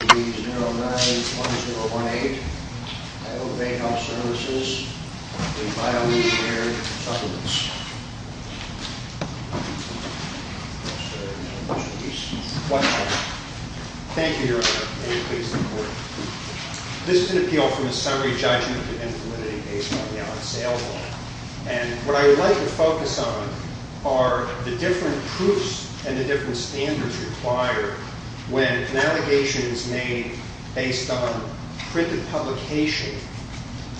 Substance. I'll start the motion please. Thank you Your Honor, anything you please report. This is an appeal from a summary judgment in infirmity based on the on sale law. What I would like to focus on are the different proofs and the different standards required when an allegation is made based on printed publication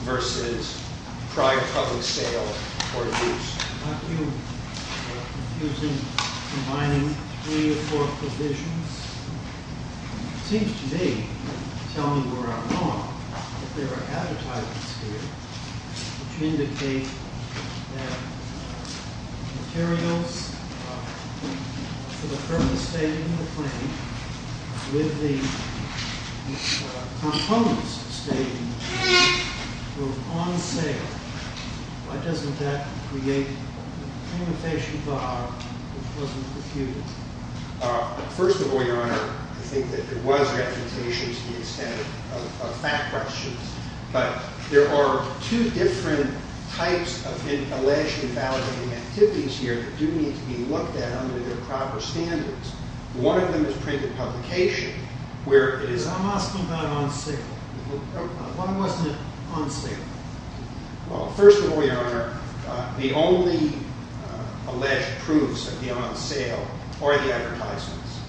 versus prior public sale or use. I'm not too confused in combining three or four provisions. It seems to me, if you tell me where I'm wrong, that there are advertisements here which indicate that materials for the purpose stated in the claim, with the components stated, were on sale. Why doesn't that create a limitation bar which wasn't refuted? First of all, Your Honor, I think that there was a refutation to the extent of fact questions. But there are two different types of alleged invalidating activities here that do need to be looked at under their proper standards. One of them is printed publication. I'm asking about on sale. Why wasn't it on sale? First of all, Your Honor, the only alleged proofs of the on sale are the advertisements.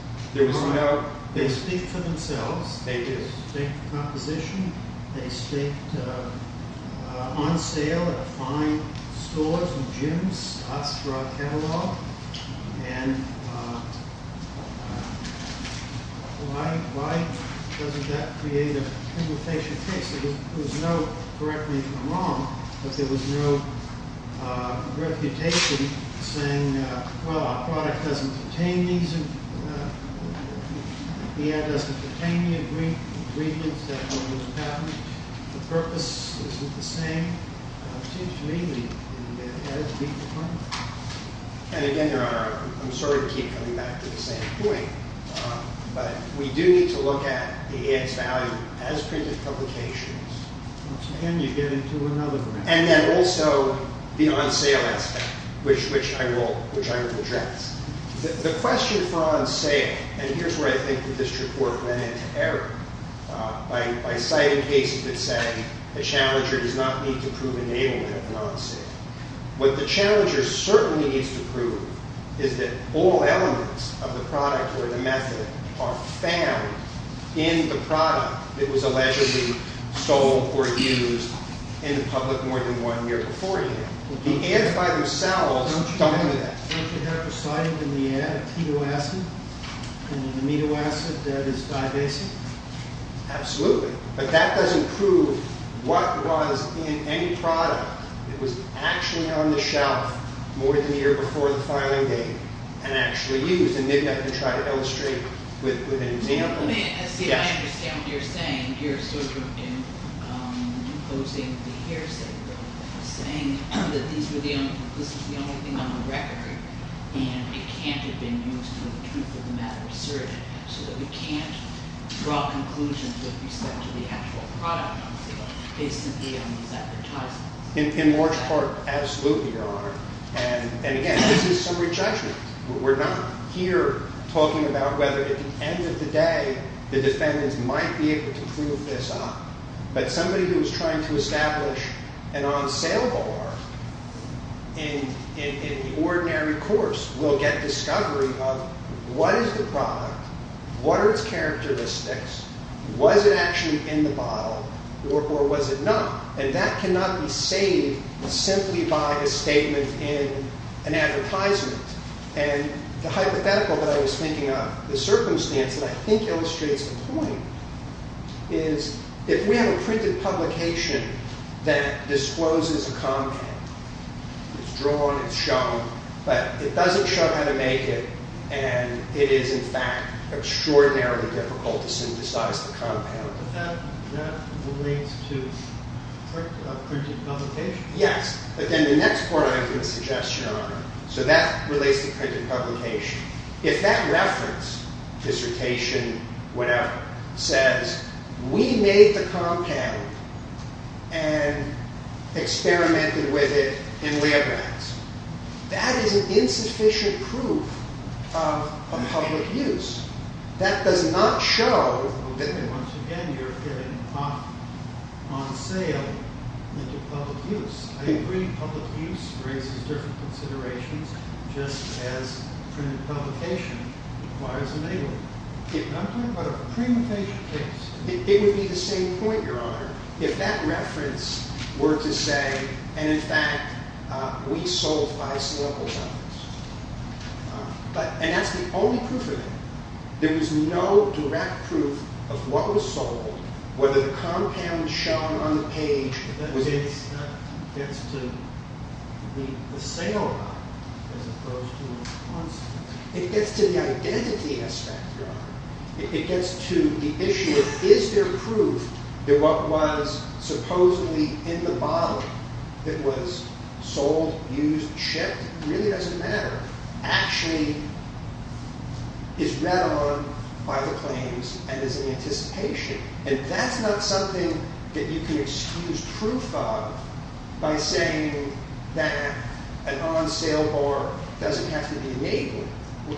They speak for themselves. They do. They speak for composition. They speak on sale at fine stores and gyms. That's broad catalog. And why doesn't that create a limitation case? There was no, correct me if I'm wrong, but there was no refutation saying, well, our product doesn't pertain to these, the ad doesn't pertain to the agreements that are on this patent. The purpose isn't the same. It seems to me that the ad has to be confirmed. And again, Your Honor, I'm sorry to keep coming back to the same point. But we do need to look at the ad's value as printed publications. So again, you get into another group. And then also the on sale aspect, which I will address. The question for on sale, and here's where I think that this report went into error, by citing cases that say the challenger does not need to prove enablement of an on sale. What the challenger certainly needs to prove is that all elements of the product or the method are found in the product that was allegedly sold or used in the public more than one year beforehand. The ads by themselves don't do that. Don't you have a slide in the ad of keto acid and an amino acid that is divasive? Absolutely. But that doesn't prove what was in any product that was actually on the shelf more than a year before the filing date and actually used. And maybe I can try to illustrate with an example. I understand what you're saying. You're sort of imposing the hearsay. You're saying that this is the only thing on the record and it can't have been used for the truth of the matter asserted. So we can't draw conclusions with respect to the actual product on sale based simply on these advertisements. In large part, absolutely, Your Honor. And again, this is summary judgment. We're not here talking about whether at the end of the day the defendants might be able to prove this up. But somebody who is trying to establish an on-sale bar in the ordinary course will get discovery of what is the product, what are its characteristics, was it actually in the bottle, or was it not? And that cannot be saved simply by a statement in an advertisement. And the hypothetical that I was thinking of, the circumstance that I think illustrates the point, is if we have a printed publication that discloses a compound, it's drawn, it's shown, but it doesn't show how to make it, and it is in fact extraordinarily difficult to synthesize the compound. But that relates to printed publication? Yes. But then the next point I'm going to suggest, Your Honor, so that relates to printed publication. If that reference, dissertation, whatever, says we made the compound and experimented with it in liabilities, that is an insufficient proof of public use. That does not show that once again you're getting off on sale into public use. I agree public use raises different considerations, just as printed publication requires a label. I'm talking about a premeditation case. It would be the same point, Your Honor, if that reference were to say, and in fact, we sold five slippers of this. And that's the only proof of it. There was no direct proof of what was sold, whether the compound was shown on the page. It gets to the sale, as opposed to the concept. It gets to the identity aspect, Your Honor. It gets to the issue of is there proof that what was supposedly in the bottle that was sold, used, shipped, really doesn't matter, actually is read on by the claims and is in anticipation. And that's not something that you can excuse proof of by saying that an on-sale bar doesn't have to be enabled.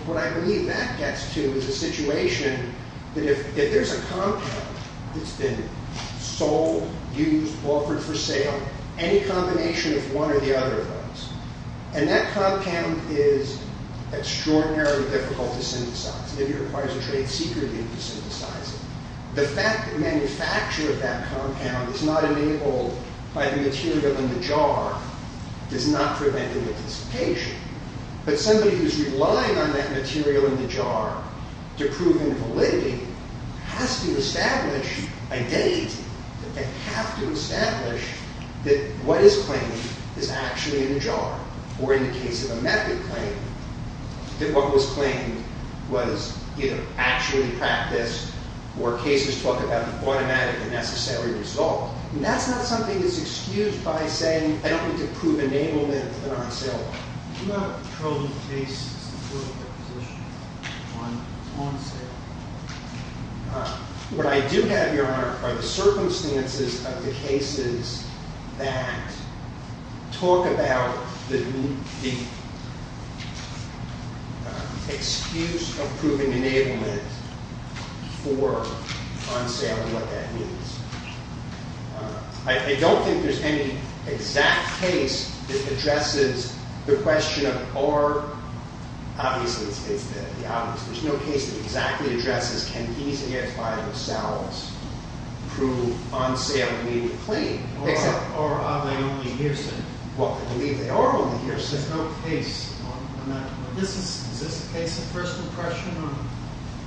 What I believe that gets to is a situation that if there's a compound that's been sold, used, offered for sale, any combination of one or the other of those, and that compound is extraordinarily difficult to synthesize. It requires a trade secret to synthesize it. The fact that manufacture of that compound is not enabled by the material in the jar does not prevent the anticipation. But somebody who's relying on that material in the jar to prove invalidity has to establish a date that they have to establish that what is claimed is actually in the jar, or in the case of a method claim, that what was claimed was either actually practiced or cases talk about an automatic and necessary result. And that's not something that's excused by saying I don't need to prove enablement of an on-sale bar. I do not have a proven case to support that position on on-sale. What I do have, Your Honor, are the circumstances of the cases that talk about the excuse of proving enablement for on-sale and what that means. I don't think there's any exact case that addresses the question of or. Obviously, it's the obvious. There's no case that exactly addresses can these AF5 cells prove on-sale immediately. Or are they only hearsay? Well, I believe they are only hearsay. There's no case on that. Is this a case of first impression on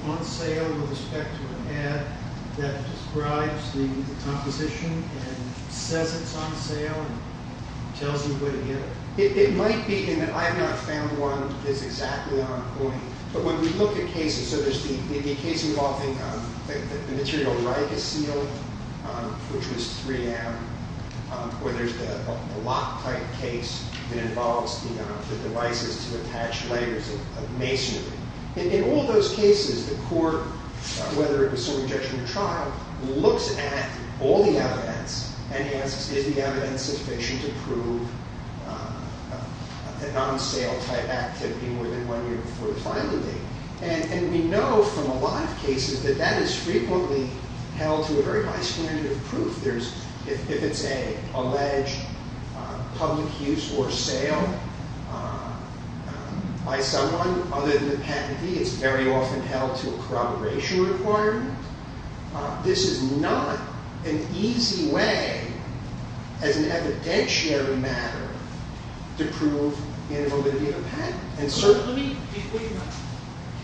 on-sale with respect to an ad that describes the composition and says it's on sale and tells you where to get it? It might be in that I have not found one that is exactly on point. But when we look at cases, so there's the case involving the material ribosyl, which was 3M, where there's the loctite case that involves the devices to attach layers of masonry. In all those cases, the court, whether it looks at all the evidence and asks, is the evidence sufficient to prove a non-sale type activity more than one year before the final date? And we know from a lot of cases that that is frequently held to a very high standard of proof. If it's an alleged public use or sale by someone other than the patentee, it's very often held to a corroboration requirement. This is not an easy way, as an evidentiary matter, to prove invalidity of a patent.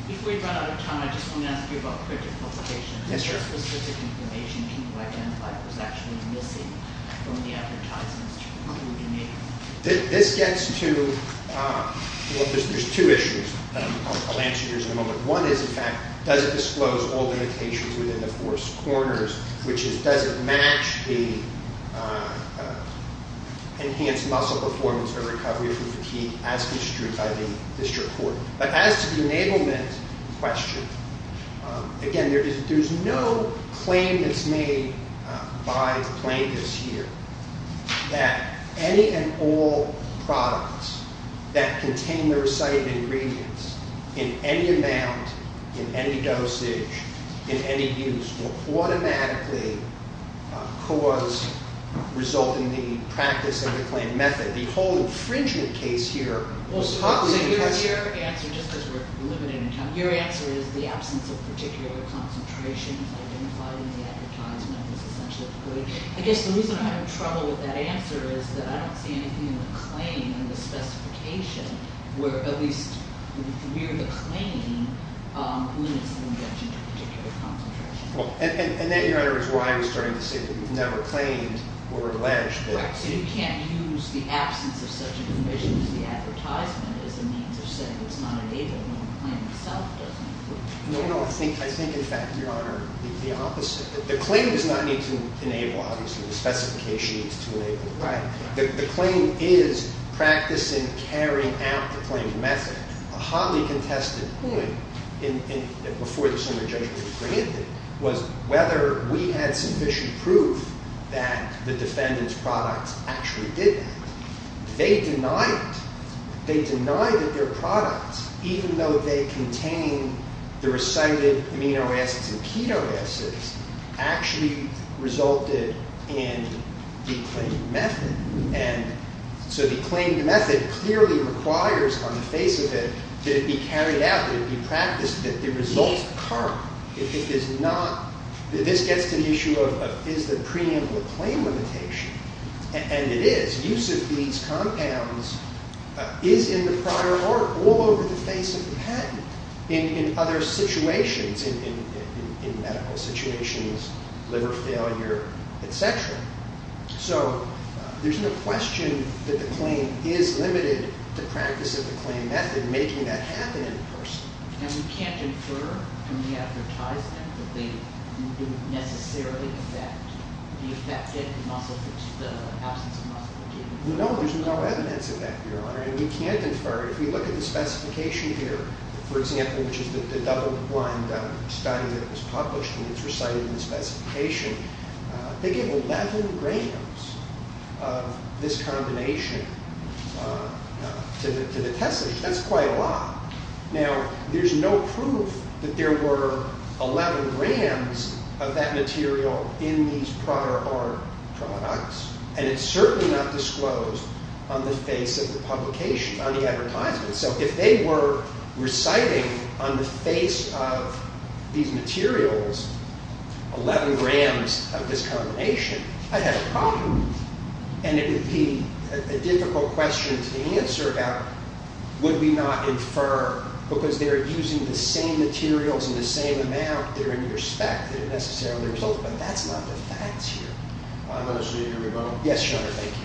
Before you run out of time, I just want to ask you about critical publication. Is there specific information people identified was actually missing from the advertisements to include in it? This gets to, well, there's two issues. I'll answer yours in a moment. One is, in fact, does it disclose all limitations within the force corners, which is, does it match the enhanced muscle performance or recovery from fatigue as construed by the district court? But as to the enablement question, again, there's no claim that's made by plaintiffs here that any and all products that contain the recited ingredients, in any amount, in any dosage, in any use, will automatically result in the practice of the claimed method. The whole infringement case here was taught with intention. Well, so your answer, just because we're limited in time, your answer is the absence of particular concentrations identified in the advertisement is essentially the point. I guess the reason I'm having trouble with that answer is that I don't see anything in the claim and the specification where at least near the claim limits the injection of a particular concentration. And that, Your Honor, is why I was starting to say that we've never claimed or alleged that. Right. So you can't use the absence of such a provision as the advertisement as a means of saying it's not enabled when the claim itself doesn't. No, no. I think, in fact, Your Honor, the opposite. The claim does not need to enable, obviously. The specification needs to enable. Right. The claim is practice in carrying out the claimed method. A highly contested point before the summary judgment was granted was whether we had sufficient proof that the defendant's products actually did that. They denied it. They denied that their products, even though they contained the recited amino acids and keto acids, actually resulted in the claimed method. And so the claimed method clearly requires on the face of it that it be carried out, that it be practiced, that the results are correct. This gets to the issue of is the preemptive claim limitation. And it is. Use of these compounds is in the prior art all over the face of the patent. And in other situations, in medical situations, liver failure, et cetera. So there's no question that the claim is limited to practice of the claimed method, making that happen in person. And we can't infer from the advertisement that they didn't necessarily affect the affected muscles, the absence of muscle fatigue? And we can't infer. If we look at the specification here, for example, which is the double-blind study that was published and it's recited in the specification, they gave 11 grams of this combination to the testers. That's quite a lot. Now, there's no proof that there were 11 grams of that material in these prior art products. And it's certainly not disclosed on the face of the publication, on the advertisement. So if they were reciting on the face of these materials 11 grams of this combination, I'd have a problem. And it would be a difficult question to answer about, would we not infer? Because they're using the same materials in the same amount. They're in your spec. They don't necessarily result. But that's not the facts here. I'm not sure you hear me well. Yes, sure. Thank you.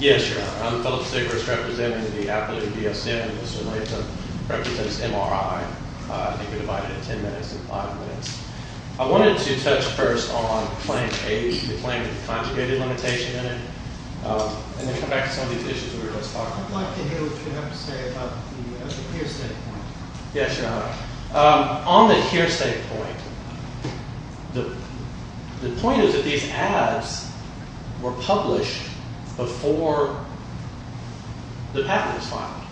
Yes, your honor. I'm Phillip Sigrist representing the Appalachian BSN. Mr. Latham represents MRI. I think we're divided into 10 minutes and five minutes. I wanted to touch first on claim A, the claim with the conjugated limitation in it. And then come back to some of these issues we were just talking about. I'd like to hear what you have to say about the hearsay point. Yes, your honor. On the hearsay point, the point is that these ads were published before the patent was filed.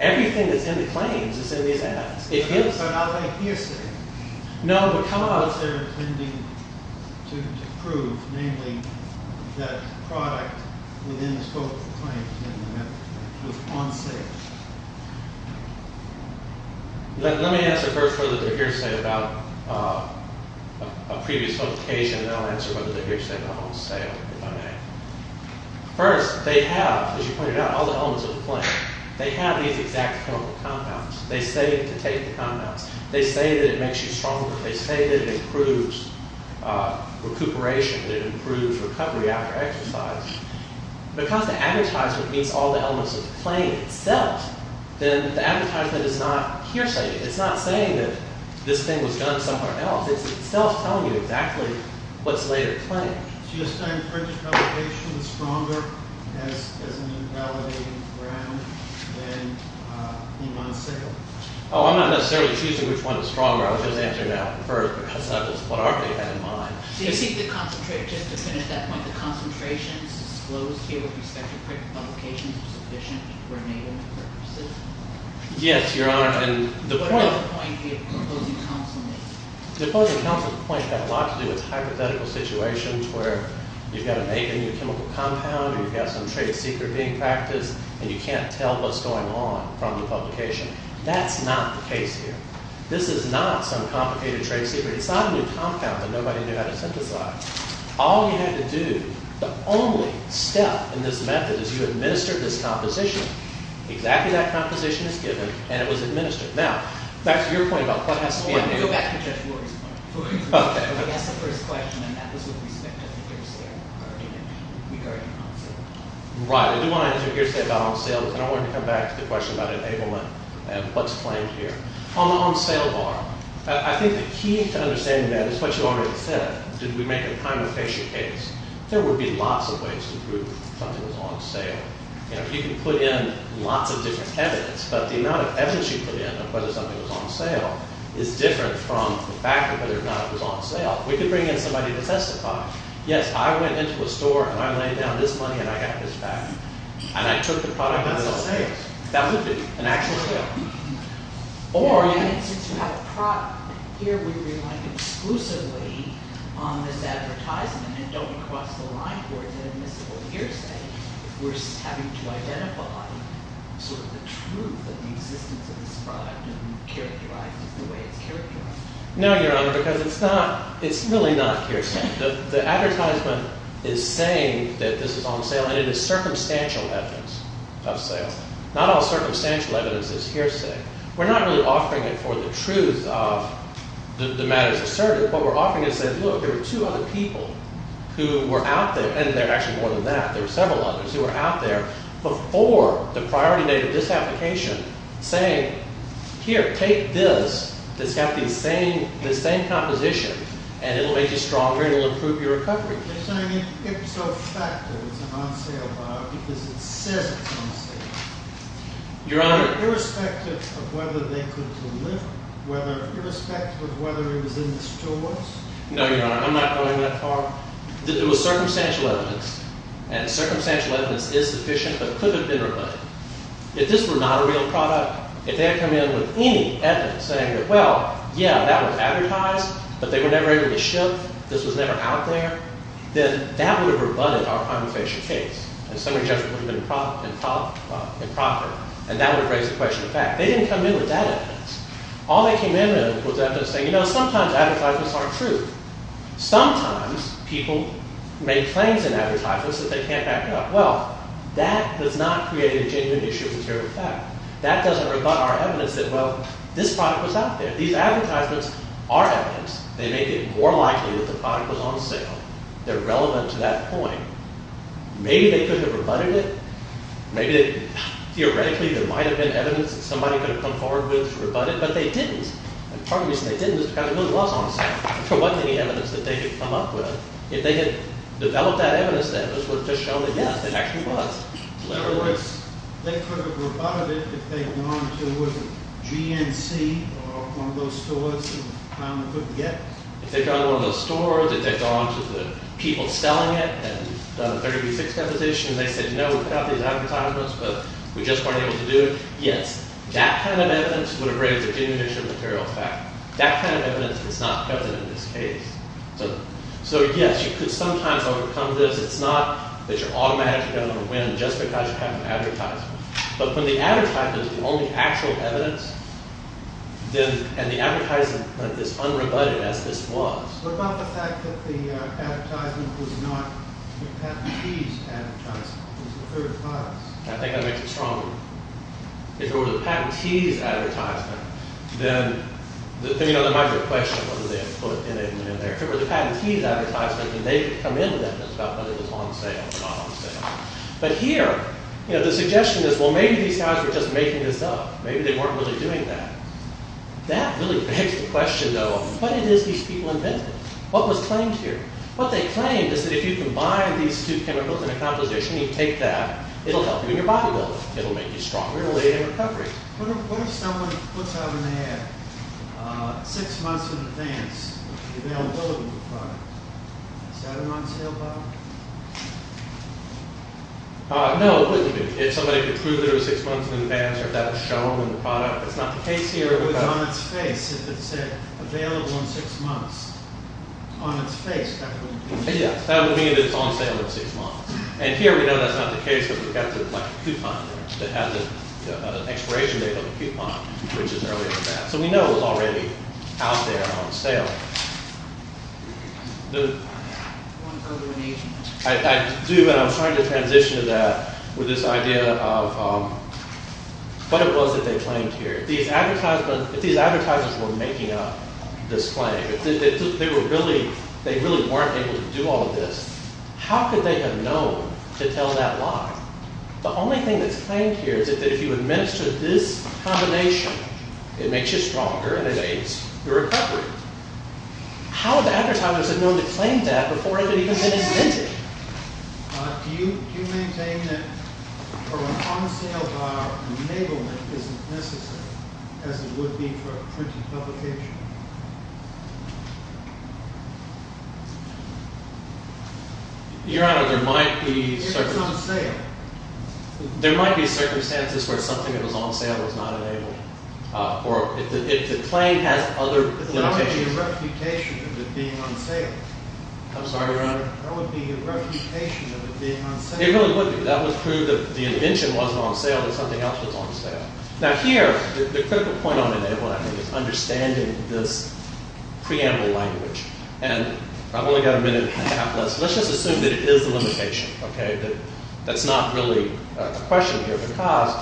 Everything that's in the claims is in these ads. But are they hearsay? No, but come on. They're intending to prove, namely, that the product within the scope of the claim was on sale. Let me answer first whether they're hearsay about a previous publication, and then I'll answer whether they're hearsay about on sale, if I may. First, they have, as you pointed out, all the elements of the claim. They have these exact chemical compounds. They say to take the compounds. They say that it makes you stronger. They say that it improves recuperation, that it improves recovery after exercise. Because the advertisement meets all the elements of the claim itself, then the advertisement is not hearsay. It's not saying that this thing was done somewhere else. It's itself telling you exactly what's later claimed. Do you assign printed publications stronger as an invalidating ground than on sale? Oh, I'm not necessarily choosing which one is stronger. I'm just answering that first, because that's what I already had in mind. Do you think the concentration, just to finish that point, the concentrations disclosed here with respect to printed publications are sufficient for enabling purposes? Yes, Your Honor, and the point... What other point did the opposing counsel make? The opposing counsel's point had a lot to do with hypothetical situations where you've got to make a new chemical compound or you've got some trade secret being practiced and you can't tell what's going on from the publication. That's not the case here. This is not some complicated trade secret. It's not a new compound that nobody knew how to synthesize. All you had to do, the only step in this method is you administered this composition. Exactly that composition is given and it was administered. Now, back to your point about what has to be... I'm going to go back to Judge Lawrence's point. He asked the first question and that was with respect to the hearsay regarding on-sale. Right, I do want to answer hearsay about on-sales and I wanted to come back to the question about enablement and what's claimed here. On the on-sale bar, I think the key to understanding that is what you already said. Did we make a time efficient case? There would be lots of ways to prove something was on sale. You can put in lots of different evidence, but the amount of evidence you put in of whether something was on sale is different from the fact of whether or not it was on sale. We could bring in somebody to testify. Yes, I went into a store and I laid down this money and I got this back and I took the product myself. That's a sale. That would be an actual sale. Or... And since you have a product here, we rely exclusively on this advertisement and don't cross the line towards an admissible hearsay. We're having to identify sort of the truth of the existence of this product and characterize it the way it's characterized. No, Your Honor, because it's not... It's really not hearsay. The advertisement is saying that this is on sale and it is circumstantial evidence of sale. Not all circumstantial evidence is hearsay. We're not really offering it for the truth of the matters asserted. What we're offering is saying, look, there are two other people who were out there, and there are actually more than that, there are several others who were out there before the priority date of this application saying, here, take this that's got the same composition and it'll make you stronger and it'll improve your recovery. They're saying it's a fact that it's an on-sale product because it says it's on sale. Your Honor... Irrespective of whether they could deliver, irrespective of whether it was in the stores... No, Your Honor, I'm not going that far. It was circumstantial evidence, and circumstantial evidence is sufficient, but could have been rebutted. If this were not a real product, if they had come in with any evidence saying that, well, yeah, that was advertised, but they were never able to ship, this was never out there, then that would have rebutted our crime of facial case and summary judgment would have been improper, and that would have raised the question of fact. They didn't come in with that evidence. All they came in with was evidence saying, you know, sometimes advertisements aren't true. Sometimes people make claims in advertisements that they can't back up. Well, that does not create a genuine issue of material fact. That doesn't rebut our evidence that, well, this product was out there. These advertisements are evidence. They make it more likely that the product was on sale. They're relevant to that point. Maybe they couldn't have rebutted it. Maybe theoretically there might have been evidence that somebody could have come forward with to rebut it, but they didn't. And part of the reason they didn't is because it really was on sale. There wasn't any evidence that they could come up with. If they had developed that evidence, then it would have just shown that, yes, it actually was. In other words, they could have rebutted it if they had gone to a GNC or one of those stores and found a good get. If they'd gone to one of those stores, if they'd gone to the people selling it and done a 30 v. 6 competition, and they said, no, we put out these advertisements, but we just weren't able to do it, yes. That kind of evidence would have raised a genuine issue of material fact. That kind of evidence is not present in this case. So yes, you could sometimes overcome this. It's not that you're automatically going to win just because you have an advertisement. But when the advertisement is the only actual evidence, and the advertisement is unrebutted as this was. What about the fact that the advertisement was not the patentee's advertisement? It was the third class. I think that makes it stronger. If it were the patentee's advertisement, then it might be a question of whether they had put in there. If it were the patentee's advertisement, then they could come in with evidence about whether it was on sale or not on sale. But here, the suggestion is, well, maybe these guys were just making this up. Maybe they weren't really doing that. That really begs the question, though, of what it is these people invented. What was claimed here? What they claimed is that if you combine these two chemicals in a composition and you take that, it'll help you in your bodybuilding. It'll make you stronger and lead in recovery. What if someone puts out in the air, six months in advance, the availability of the product? Is that an on-sale product? No, it wouldn't be. If somebody could prove that it was six months in advance or if that was shown in the product, that's not the case here. If it was on its face, if it said, available in six months, on its face, that wouldn't be the case. Yes, that would mean that it's on sale in six months. And here, we know that's not the case because we've got the coupon that has an expiration date on the coupon, which is earlier than that. So we know it was already out there on sale. I do, but I'm trying to transition to that with this idea of what it was that they claimed here. If these advertisers were making up this claim, if they really weren't able to do all of this, how could they have known to tell that lie? The only thing that's claimed here is that if you administer this combination, it makes you stronger and it aids your recovery. How would the advertisers have known to claim that before it had even been invented? Do you maintain that an on-sale bar enablement isn't necessary, as it would be for a printed publication? Your Honor, there might be circumstances. If it's on sale. There might be circumstances where something that was on sale was not enabled, or if the claim has other limitations. There would be a reputation of it being on sale. I'm sorry, Your Honor? There would be a reputation of it being on sale. It really would be. That would prove that the invention wasn't on sale and something else was on sale. Now here, the critical point on enablement, I think, is understanding this preamble language. And I've only got a minute and a half left. Let's just assume that it is a limitation. That's not really a question here. Because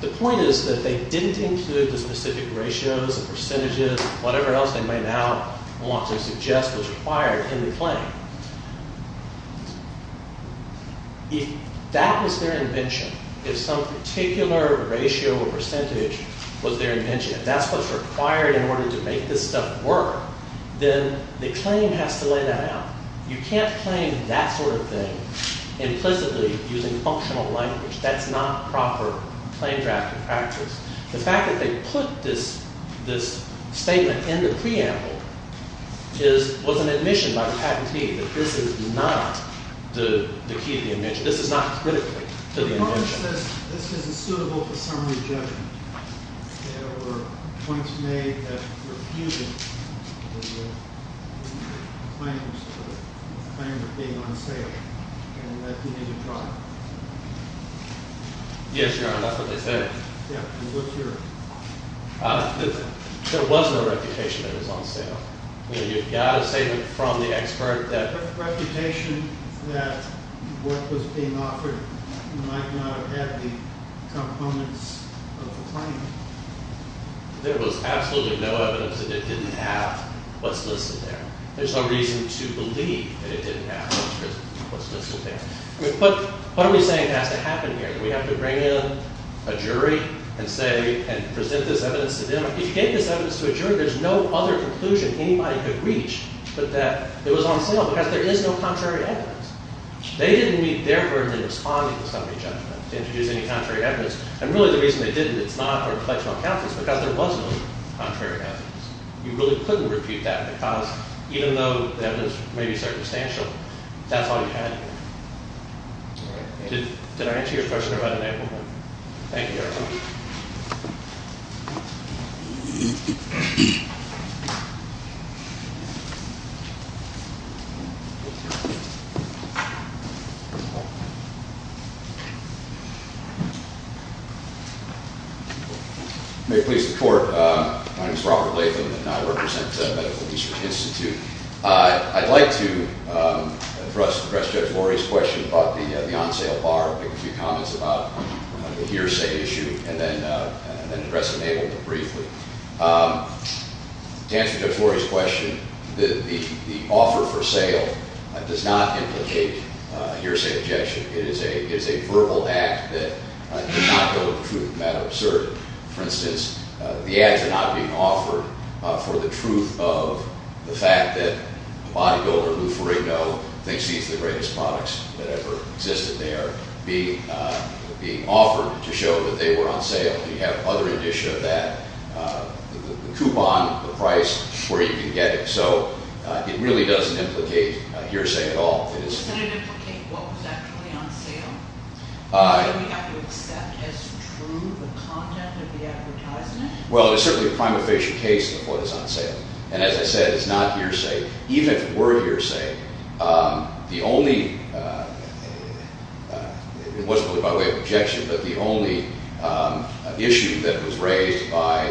the point is that they didn't include the specific ratios, the percentages, whatever else they may now want to suggest was required in the claim. If that was their invention, if some particular ratio or percentage was their invention, if that's what's required in order to make this stuff work, then the claim has to lay that out. You can't claim that sort of thing implicitly using functional language. That's not proper claim drafting practice. The fact that they put this statement in the preamble was an admission by the patentee that this is not the key to the invention. This is not critical to the invention. The point is that this isn't suitable for summary judgment. There were points made that refuted the claim of being on sale. And that's a negative product. Yes, Your Honor, that's what they said. Yeah, and what's your? There was no reputation that it was on sale. You know, you've got a statement from the expert that. Reputation that what was being offered might not have the components of the claim. There was absolutely no evidence that it didn't have what's listed there. There's no reason to believe that it didn't have what's listed there. What are we saying has to happen here? Do we have to bring in a jury and say, and present this evidence to them? If you gave this evidence to a jury, there's no other conclusion anybody could reach but that it was on sale because there is no contrary evidence. They didn't meet their burden in responding to summary judgment to introduce any contrary evidence. And really the reason they didn't, it's not for a collection of accountants because there was no contrary evidence. You really couldn't refute that because even though the evidence may be circumstantial, that's all you had. Did I answer your question about enablement? Thank you, Your Honor. May it please the court. My name is Robert Latham and I represent the Medical Research Institute. I'd like to address Judge Lori's question about the on-sale bar, make a few comments about the hearsay issue, and then address enablement briefly. To answer Judge Lori's question, the offer for sale does not implicate that there is no contrary evidence. It does not implicate hearsay objection. It is a verbal act that cannot go with truth, a matter of certainty. For instance, the ads are not being offered for the truth of the fact that a bodybuilder, Lou Ferrigno, thinks he has the greatest products that ever existed. They are being offered to show that they were on sale. You have other edition of that, the coupon, the price, where you can get it. So it really doesn't implicate hearsay at all. Does it implicate what was actually on sale? Do we have to accept as true the content of the advertisement? Well, it's certainly a prima facie case that what is on sale. And as I said, it's not hearsay. Even if it were hearsay, the only, it wasn't really by way of objection, but the only issue that was raised by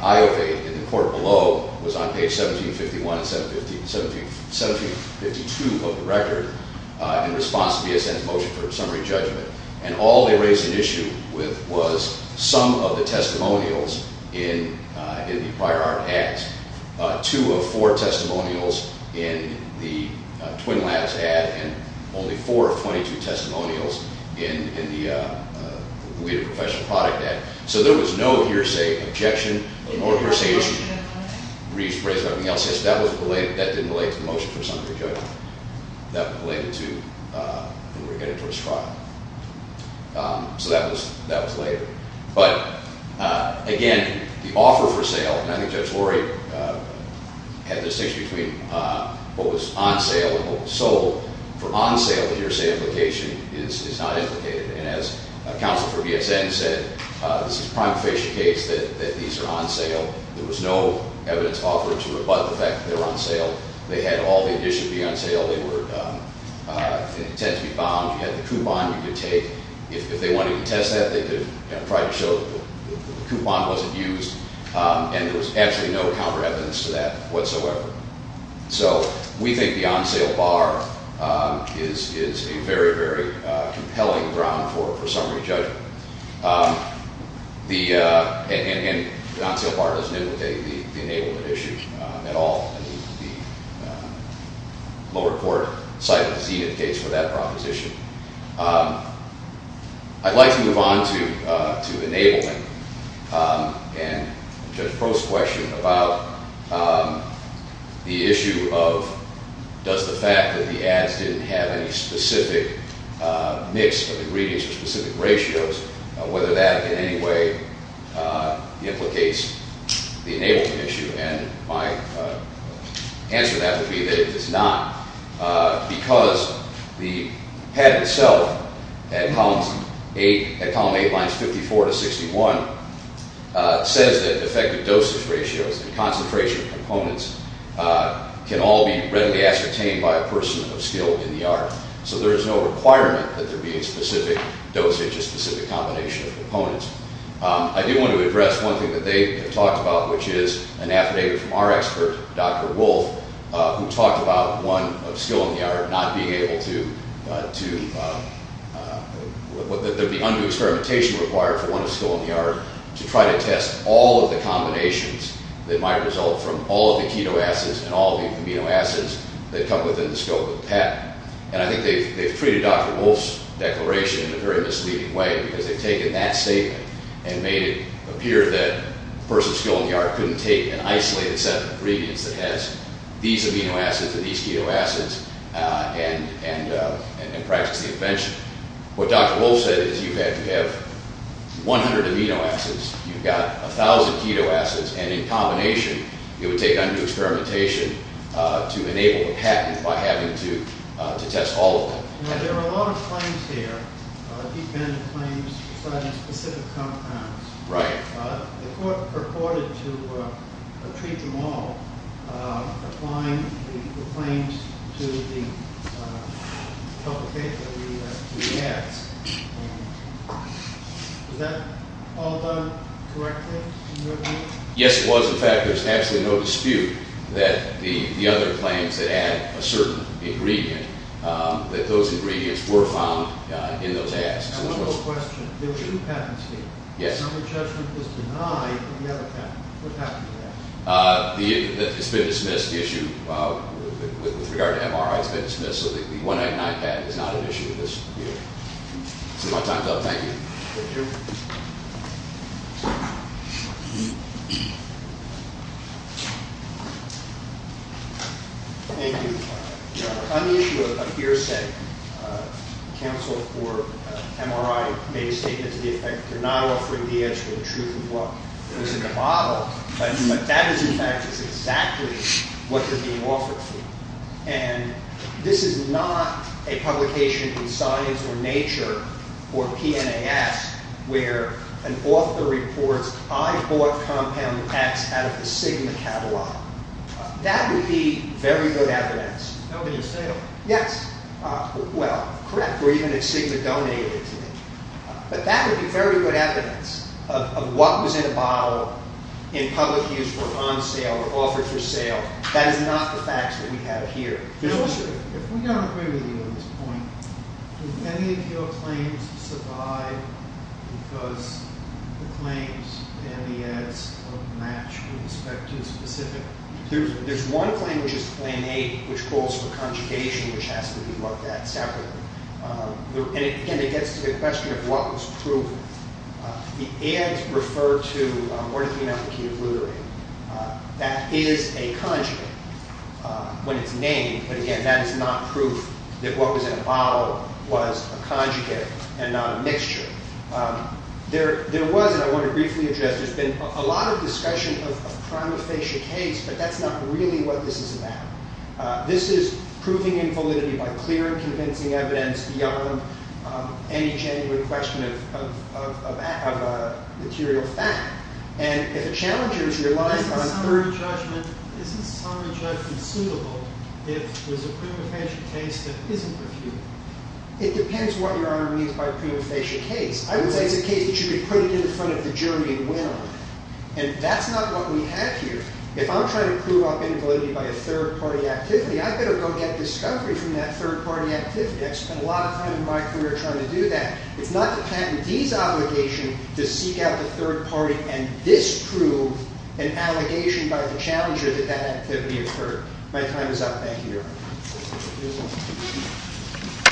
Iowa in the court below was on page 1751 and 1752 of the record in response to BSN's motion for summary judgment. And all they raised an issue with was some of the testimonials in the prior art ads. Two of four testimonials in the Twin Labs ad and only four of 22 testimonials in the Weed of Professional Product ad. So there was no hearsay objection, no hearsay issue raised by anything else. That didn't relate to the motion for summary judgment. That was related to Edward Editors' trial. So that was later. But again, the offer for sale, and I think Judge Lurie had the distinction between what was on sale and what was sold. For on sale, the hearsay implication is not implicated. And as counsel for BSN said, this is a prima facie case that these are on sale. There was no evidence offered to rebut the fact that they were on sale. They had all the edition be on sale. They were intended to be bound. You had the coupon you could take. If they wanted to test that, they could try to show that the coupon wasn't used. And there was actually no counter evidence to that whatsoever. So we think the on sale bar is a very, very compelling ground for summary judgment. And the on sale bar doesn't implicate the enablement issue at all. The lower court cited the Zenith case for that proposition. I'd like to move on to enablement. And Judge Proh's question about the issue of does the fact that the ads didn't have any specific mix of ingredients or specific ratios, whether that in any way implicates the enablement issue. And my answer to that would be that it does not. Because the patent itself at column 8 lines 54 to 61 says that effective dosage ratios and concentration components can all be readily ascertained by a person of skill in the art. So there is no requirement that there be a specific dosage, a specific combination of components. I do want to address one thing that they have talked about, which is an affidavit from our expert, Dr. Wolf, who talked about one of skill in the art not being able to, that there be undue experimentation required for one of skill in the art to try to test all of the combinations that might result from all of the keto acids and all of the amino acids that come within the scope of the patent. And I think they've treated Dr. Wolf's declaration in a very misleading way, because they've taken that statement and made it appear that a person of skill in the art couldn't take an isolated set of ingredients that has these amino acids and these keto acids and practice the invention. What Dr. Wolf said is you have to have 100 amino acids, you've got 1,000 keto acids, and in combination it would take undue experimentation to enable a patent by having to test all of them. Now, there are a lot of claims here, deep-ended claims regarding specific compounds. Right. The court purported to treat them all, applying the claims to the ads. Was that all done correctly in your view? Yes, it was. In fact, there's absolutely no dispute that the other claims that add a certain ingredient, that those ingredients were found in those ads. I have one more question. There were two patents here. Yes. And the judgment was denied in the other patent. What happened to that? It's been dismissed, the issue. With regard to MRI, it's been dismissed. So the 199 patent is not an issue in this view. So my time's up. Thank you. Thank you. Thank you. On the issue of hearsay, counsel for MRI made a statement to the effect they're not offering the actual truth of what was in the bottle. But that is, in fact, exactly what they're being offered. And this is not a publication in Science or Nature or PNAS where an author reports, I bought compounds X out of the Sigma catalog. That would be very good evidence. That would be a sale. Yes. Well, correct. Or even if Sigma donated it to me. But that would be very good evidence of what was in a bottle in public use or on sale or offered for sale. That is not the facts that we have here. Counselor, if we don't agree with you on this point, do any of your claims survive because the claims and the ads don't match with respect to the specific? There's one claim, which is plan A, which calls for conjugation, which has to be looked at separately. And again, it gets to the question of what was proven. The ads refer to morphine alpha ketoglutarate. That is a conjugate when it's named. But again, that is not proof that what was in a bottle was a conjugate and not a mixture. There was, and I want to briefly address, there's been a lot of discussion of a prima facie case, but that's not really what this is about. This is proving invalidity by clear and convincing evidence beyond any genuine question of material fact. And if a challenger is relied on for a judgment, is this summary judgment suitable if there's a prima facie case that isn't reviewed? It depends what Your Honor means by prima facie case. I would say it's a case that you could put it in front of the jury and win on. And that's not what we have here. If I'm trying to prove up invalidity by a third party activity, I better go get discovery from that third party activity. I've spent a lot of time in my career trying to do that. It's not the patentee's obligation to seek out the third party and disprove an allegation by the challenger that that activity occurred. My time is up. Thank you, Your Honor. Thank you.